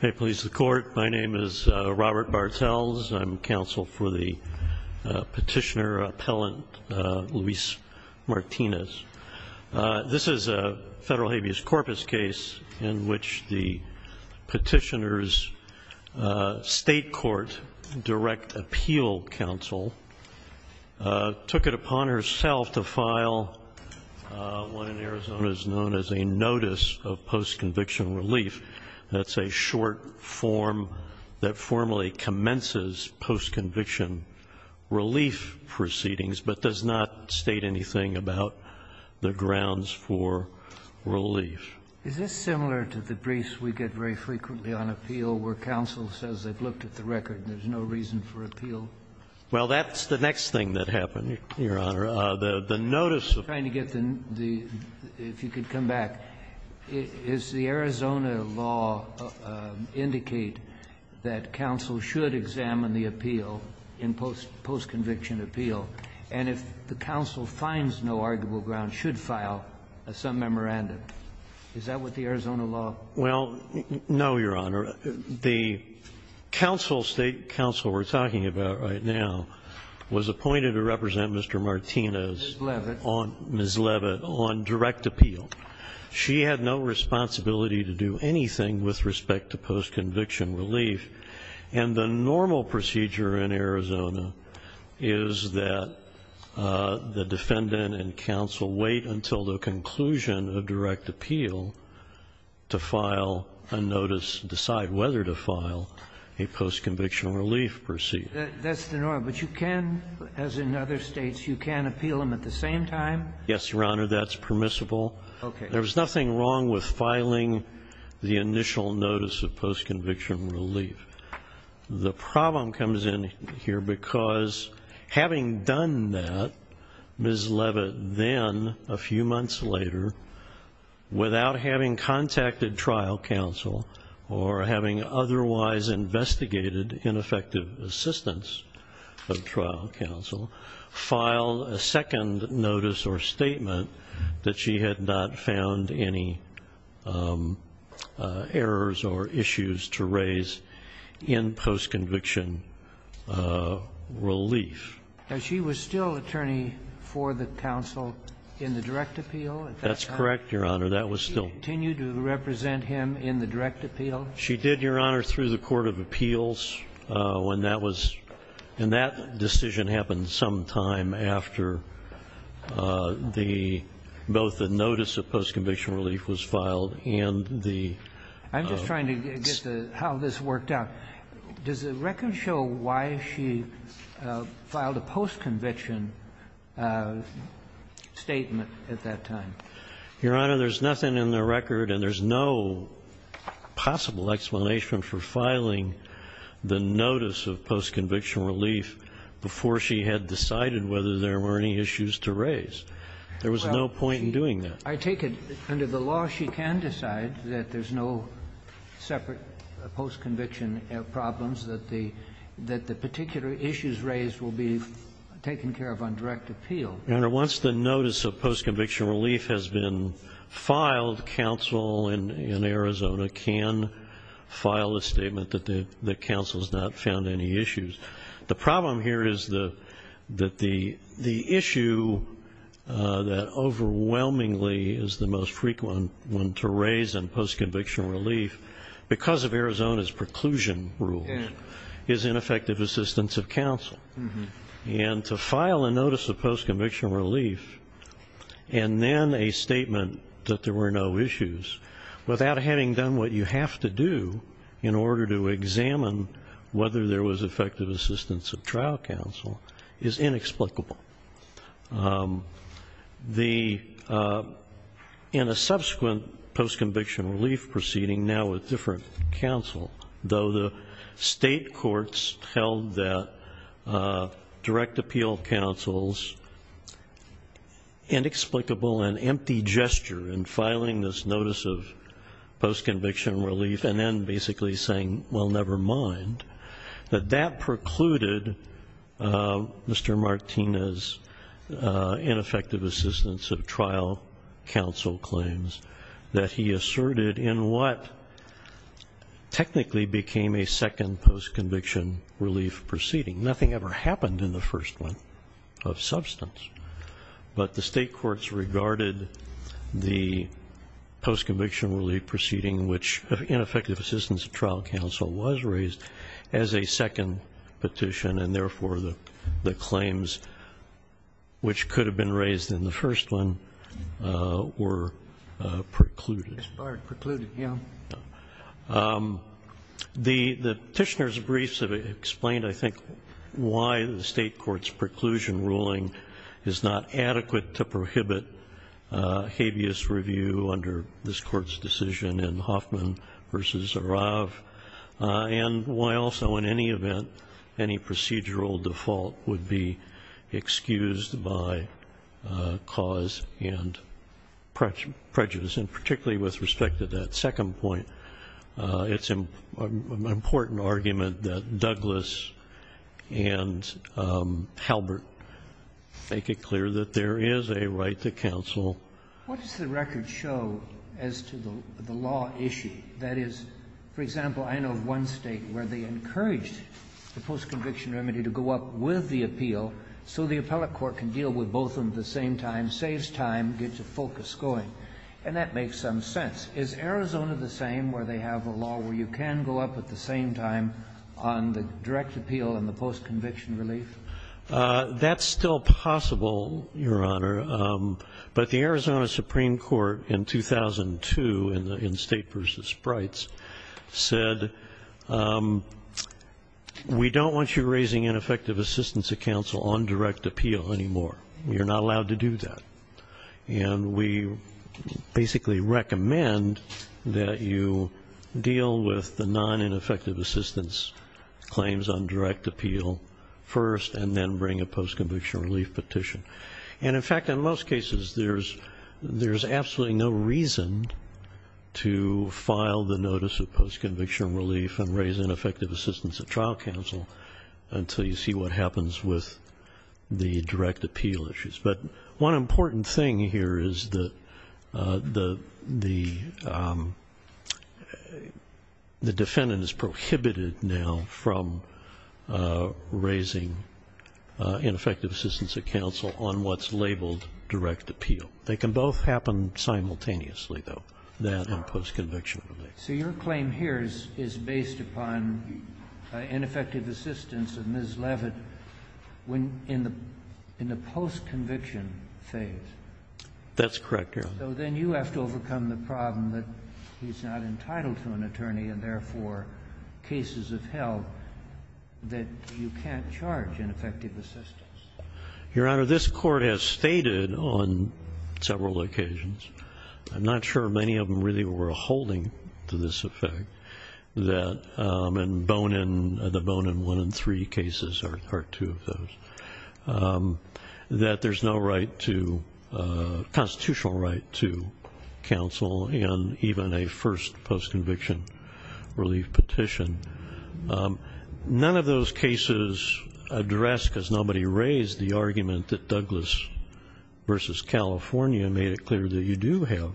Hey police the court my name is Robert Bartels I'm counsel for the petitioner appellant Luis Martinez. This is a federal habeas corpus case in which the petitioners state court direct appeal counsel took it upon herself to file what in Arizona is known as a notice of post-conviction relief. That's a short form that formally commences post-conviction relief proceedings, but does not state anything about the grounds for relief. Is this similar to the briefs we get very frequently on appeal where counsel says they've looked at the record and there's no reason for appeal? Well that's the next thing that happened, Your Honor. The notice of trying to get the, if you could come back, is the Arizona law indicate that counsel should examine the appeal in post-conviction appeal, and if the counsel finds no arguable ground should file some memorandum. Is that what the Arizona law? Well, no, Your Honor. The counsel, State counsel we're talking about right now, was appointed to represent Mr. Martinez. Ms. Levitt. Ms. Levitt on direct appeal. She had no responsibility to do anything with respect to post-conviction relief, and the normal procedure in Arizona is that the defendant and counsel wait until the conclusion of direct appeal to file a notice, decide whether to file a post-conviction relief proceeding. That's the norm, but you can, as in other states, you can appeal them at the same time? Yes, Your Honor, that's permissible. Okay. There's nothing wrong with filing the initial notice of post-conviction relief. The problem comes in here because having done that, Ms. Levitt then, a few months later, without having contacted trial counsel or having otherwise investigated ineffective assistance of trial counsel, filed a second notice or statement that she had not found any errors or issues to raise in post-conviction relief. Now, she was still attorney for the counsel in the direct appeal at that time? That's correct, Your Honor. That was still the case. Did she continue to represent him in the direct appeal? She did, Your Honor, through the court of appeals when that was and that decision happened some time after the, both the notice of post-conviction relief was filed and the I'm just trying to get how this worked out. Does the record show why she filed a post-conviction statement at that time? Your Honor, there's nothing in the record and there's no possible explanation for filing the notice of post-conviction relief before she had decided whether there were any issues to raise. There was no point in doing that. I take it under the law she can decide that there's no separate post-conviction problems, that the particular issues raised will be taken care of on direct appeal. Your Honor, once the notice of post-conviction relief has been filed, counsel in Arizona can file a statement that the counsel has not found any issues. The problem here is that the issue that overwhelmingly is the most frequent one to raise in post-conviction relief, because of Arizona's preclusion rules, is ineffective assistance of counsel. And to file a notice of post-conviction relief and then a statement that there were no issues without having done what you have to do in order to examine whether there was effective assistance of trial counsel is inexplicable. In a subsequent post-conviction relief proceeding, now with different counsel, though the state courts held that direct appeal counsel's inexplicable and empty gesture in filing this notice of post-conviction relief and then basically saying, well, never mind, that that precluded Mr. Martinez's ineffective assistance of trial counsel claims that he asserted in what technically became a second post-conviction relief proceeding. Nothing ever happened in the first one of substance, but the state courts regarded the post-conviction relief proceeding, which ineffective assistance of trial counsel was raised, as a second petition, and therefore the claims which could have been raised in the first one were precluded. expired, precluded, yeah. The petitioner's briefs have explained, I think, why the state court's preclusion ruling is not adequate to prohibit habeas review under this court's decision in Hoffman v. Arav, and why also, in any event, any procedural default would be excused by cause and prejudice. And particularly with respect to that second point, it's an make it clear that there is a right to counsel. What does the record show as to the law issue? That is, for example, I know of one state where they encouraged the post-conviction remedy to go up with the appeal so the appellate court can deal with both of them at the same time, saves time, gets the focus going. And that makes some sense. Is Arizona the same, where they have a law where you can go up at the same time on the direct appeal and the post-conviction relief? That's still possible, Your Honor. But the Arizona Supreme Court in 2002, in State v. Sprites, said, we don't want you raising ineffective assistance to counsel on direct appeal anymore. You're not allowed to do that. And we basically recommend that you deal with the non-ineffective assistance claims on direct appeal first and then bring a post-conviction relief petition. And in fact, in most cases, there's absolutely no reason to file the notice of post-conviction relief and raise ineffective assistance at trial counsel until you see what happens with the direct appeal issues. But one important thing here is that the defendant is prohibited now from raising ineffective assistance at counsel on what's labeled direct appeal. They can both happen simultaneously, though, that and post-conviction relief. So your claim here is based upon ineffective assistance of Ms. Leavitt when in the post-conviction phase? That's correct, Your Honor. So then you have to overcome the problem that he's not entitled to an attorney and therefore cases of help that you can't charge ineffective assistance. Your Honor, this Court has stated on several occasions, I'm not sure many of them really were holding to this effect, and the Bonin 1 and 3 cases are two of those, that there's no constitutional right to counsel in even a first post-conviction relief petition. None of those cases address, because nobody raised, the argument that Douglas v. California made it clear that you do have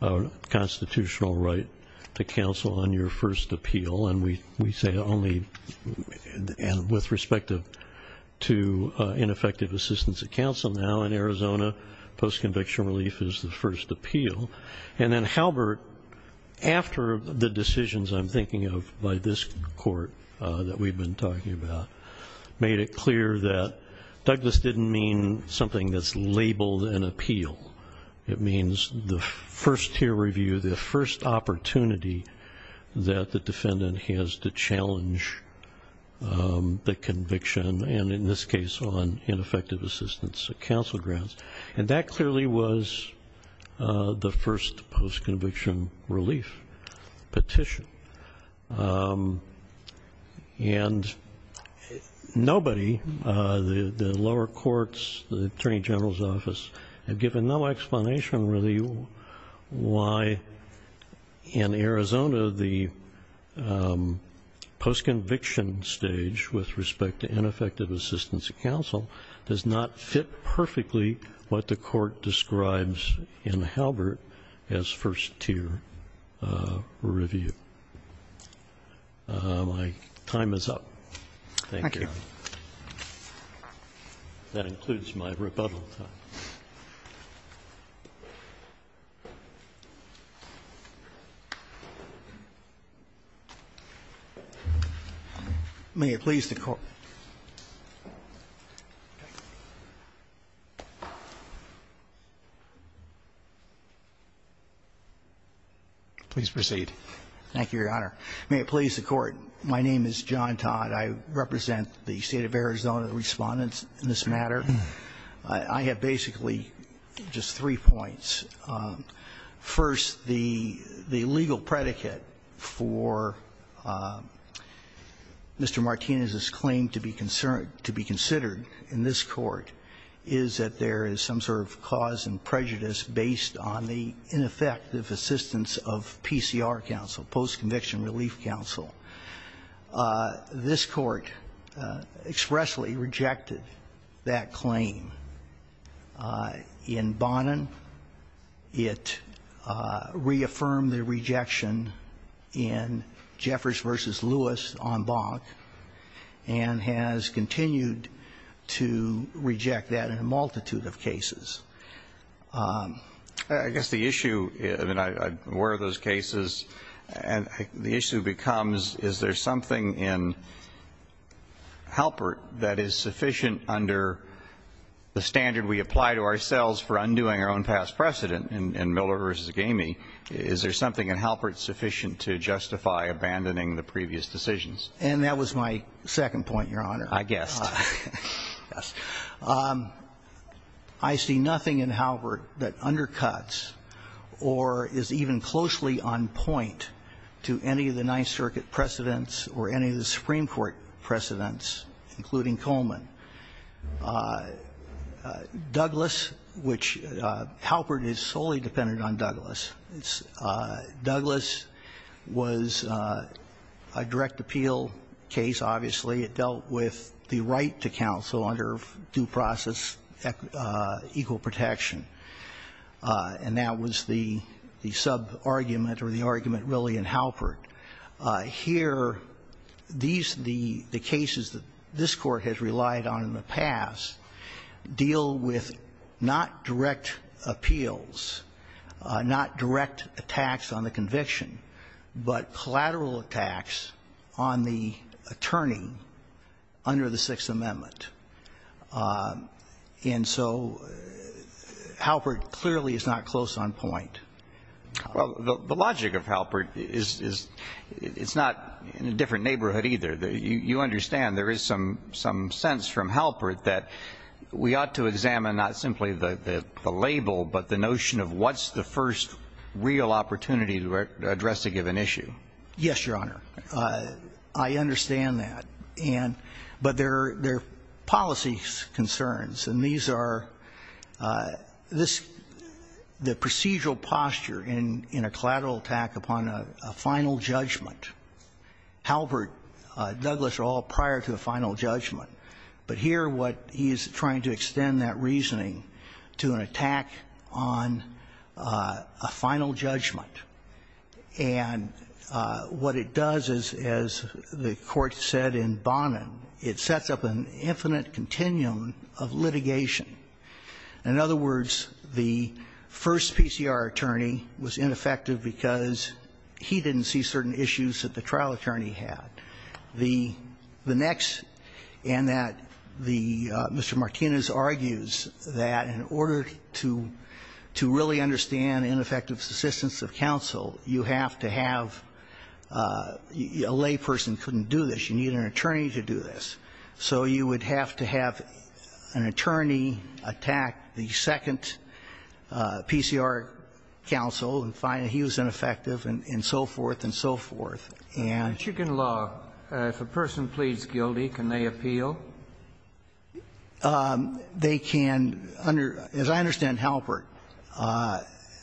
a constitutional right to counsel on your first appeal. And we say only with respect to ineffective assistance at counsel now in Arizona, post-conviction relief is the first appeal. And then Halbert, after the decisions I'm thinking of by this Court that we've been talking about, made it clear that Douglas didn't mean something that's labeled an appeal. It means the first peer review, the first opportunity that the defendant has to challenge the conviction, and in this case on ineffective assistance at counsel grounds. And that clearly was the first post-conviction relief petition. And nobody, the lower courts, the Attorney General's office, have given no explanation really why in Arizona the post-conviction stage with respect to ineffective assistance at counsel does not fit perfectly what the Court describes in Halbert as first tier review. My time is up. Thank you. That includes my rebuttal time. May it please the Court. Please proceed. Thank you, Your Honor. May it please the Court. My name is John Todd. I represent the State of Arizona, the Respondents in this matter. I have basically just three points. First, the legal predicate for Mr. Martinez's claim to be considered in this Court is that there is some sort of cause and prejudice based on the ineffective assistance of PCR counsel, post-conviction relief counsel. This Court expressly rejected that claim in Bonin. It reaffirmed the rejection in Jeffers v. Lewis on Bonk and has continued to reject that in a multitude of cases. I guess the issue, I mean, I'm aware of those cases, and the issue becomes is there something in Halbert that is sufficient under the standard we apply to ourselves for undoing our own past precedent in Miller v. Gamey? Is there something in Halbert sufficient to justify abandoning the previous decisions? And that was my second point, Your Honor. I guessed. I guessed. I see nothing in Halbert that undercuts or is even closely on point to any of the Ninth Circuit precedents or any of the Supreme Court precedents, including Coleman. Douglas, which Halbert is solely dependent on Douglas, it's Douglas was a direct appeal case, obviously. It dealt with the right to counsel under due process equal protection, and that was the sub-argument or the argument really in Halbert. Here, these the cases that this Court has relied on in the past deal with not direct appeals, not direct attacks on the conviction, but collateral attacks on the attorney under the Sixth Amendment. And so Halbert clearly is not close on point. Well, the logic of Halbert is it's not in a different neighborhood either. You understand there is some sense from Halbert that we ought to examine not simply the label, but the notion of what's the first real opportunity to address a given issue. Yes, Your Honor. I understand that. And but there are policy concerns, and these are this the procedural posture in a collateral attack upon a final judgment. Halbert, Douglas are all prior to the final judgment. But here what he is trying to extend that reasoning to an attack on a final judgment. And what it does is, as the Court said in Bonham, it sets up an infinite continuum of litigation. In other words, the first PCR attorney was ineffective because he didn't see certain issues that the trial attorney had. The next, and that the Mr. Martinez argues that in order to really understand ineffective assistance of counsel, you have to have a layperson couldn't do this. You need an attorney to do this. So you would have to have an attorney attack the second PCR counsel and find that he was ineffective and so forth and so forth. And you can law if a person pleads guilty, can they appeal? They can under, as I understand Halbert,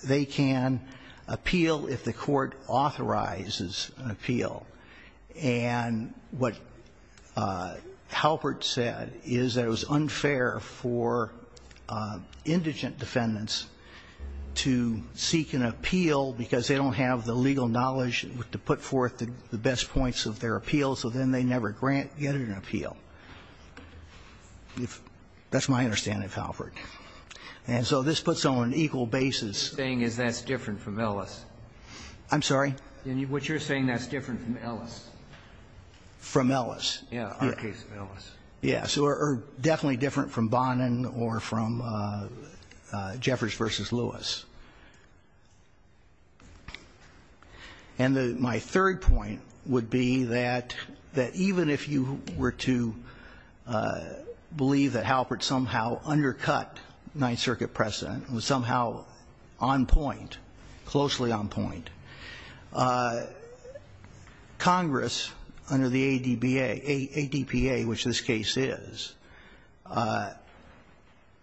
they can appeal if the court authorizes an appeal. And what Halbert said is that it was unfair for indigent defendants to seek an appeal because they don't have the legal knowledge to put forth the best points of their appeal, so then they never grant, get an appeal. That's my understanding of Halbert. And so this puts on an equal basis. Roberts. What you're saying is that's different from Ellis. I'm sorry? What you're saying is that's different from Ellis. From Ellis. Yeah, on the case of Ellis. Yeah. So definitely different from Bonham or from Jeffers v. Lewis. And my third point would be that even if you were to believe that Halbert somehow undercut Ninth Circuit precedent, was somehow on point, closely on point, Congress under the ADPA, which this case is,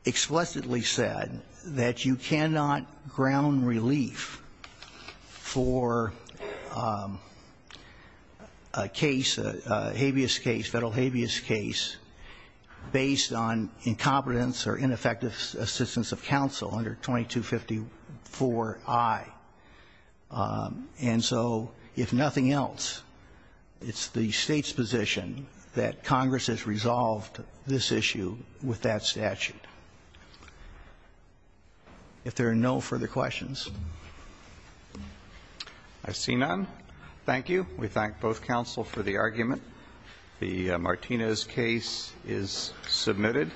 explicitly said that you cannot ground relief for a case, a habeas case, federal habeas case, based on incompetence or ineffective assistance of counsel under 2254I. And so if nothing else, it's the state's position that Congress has resolved this issue with that statute. If there are no further questions. I see none. Thank you. We thank both counsel for the argument. The Martinez case is submitted.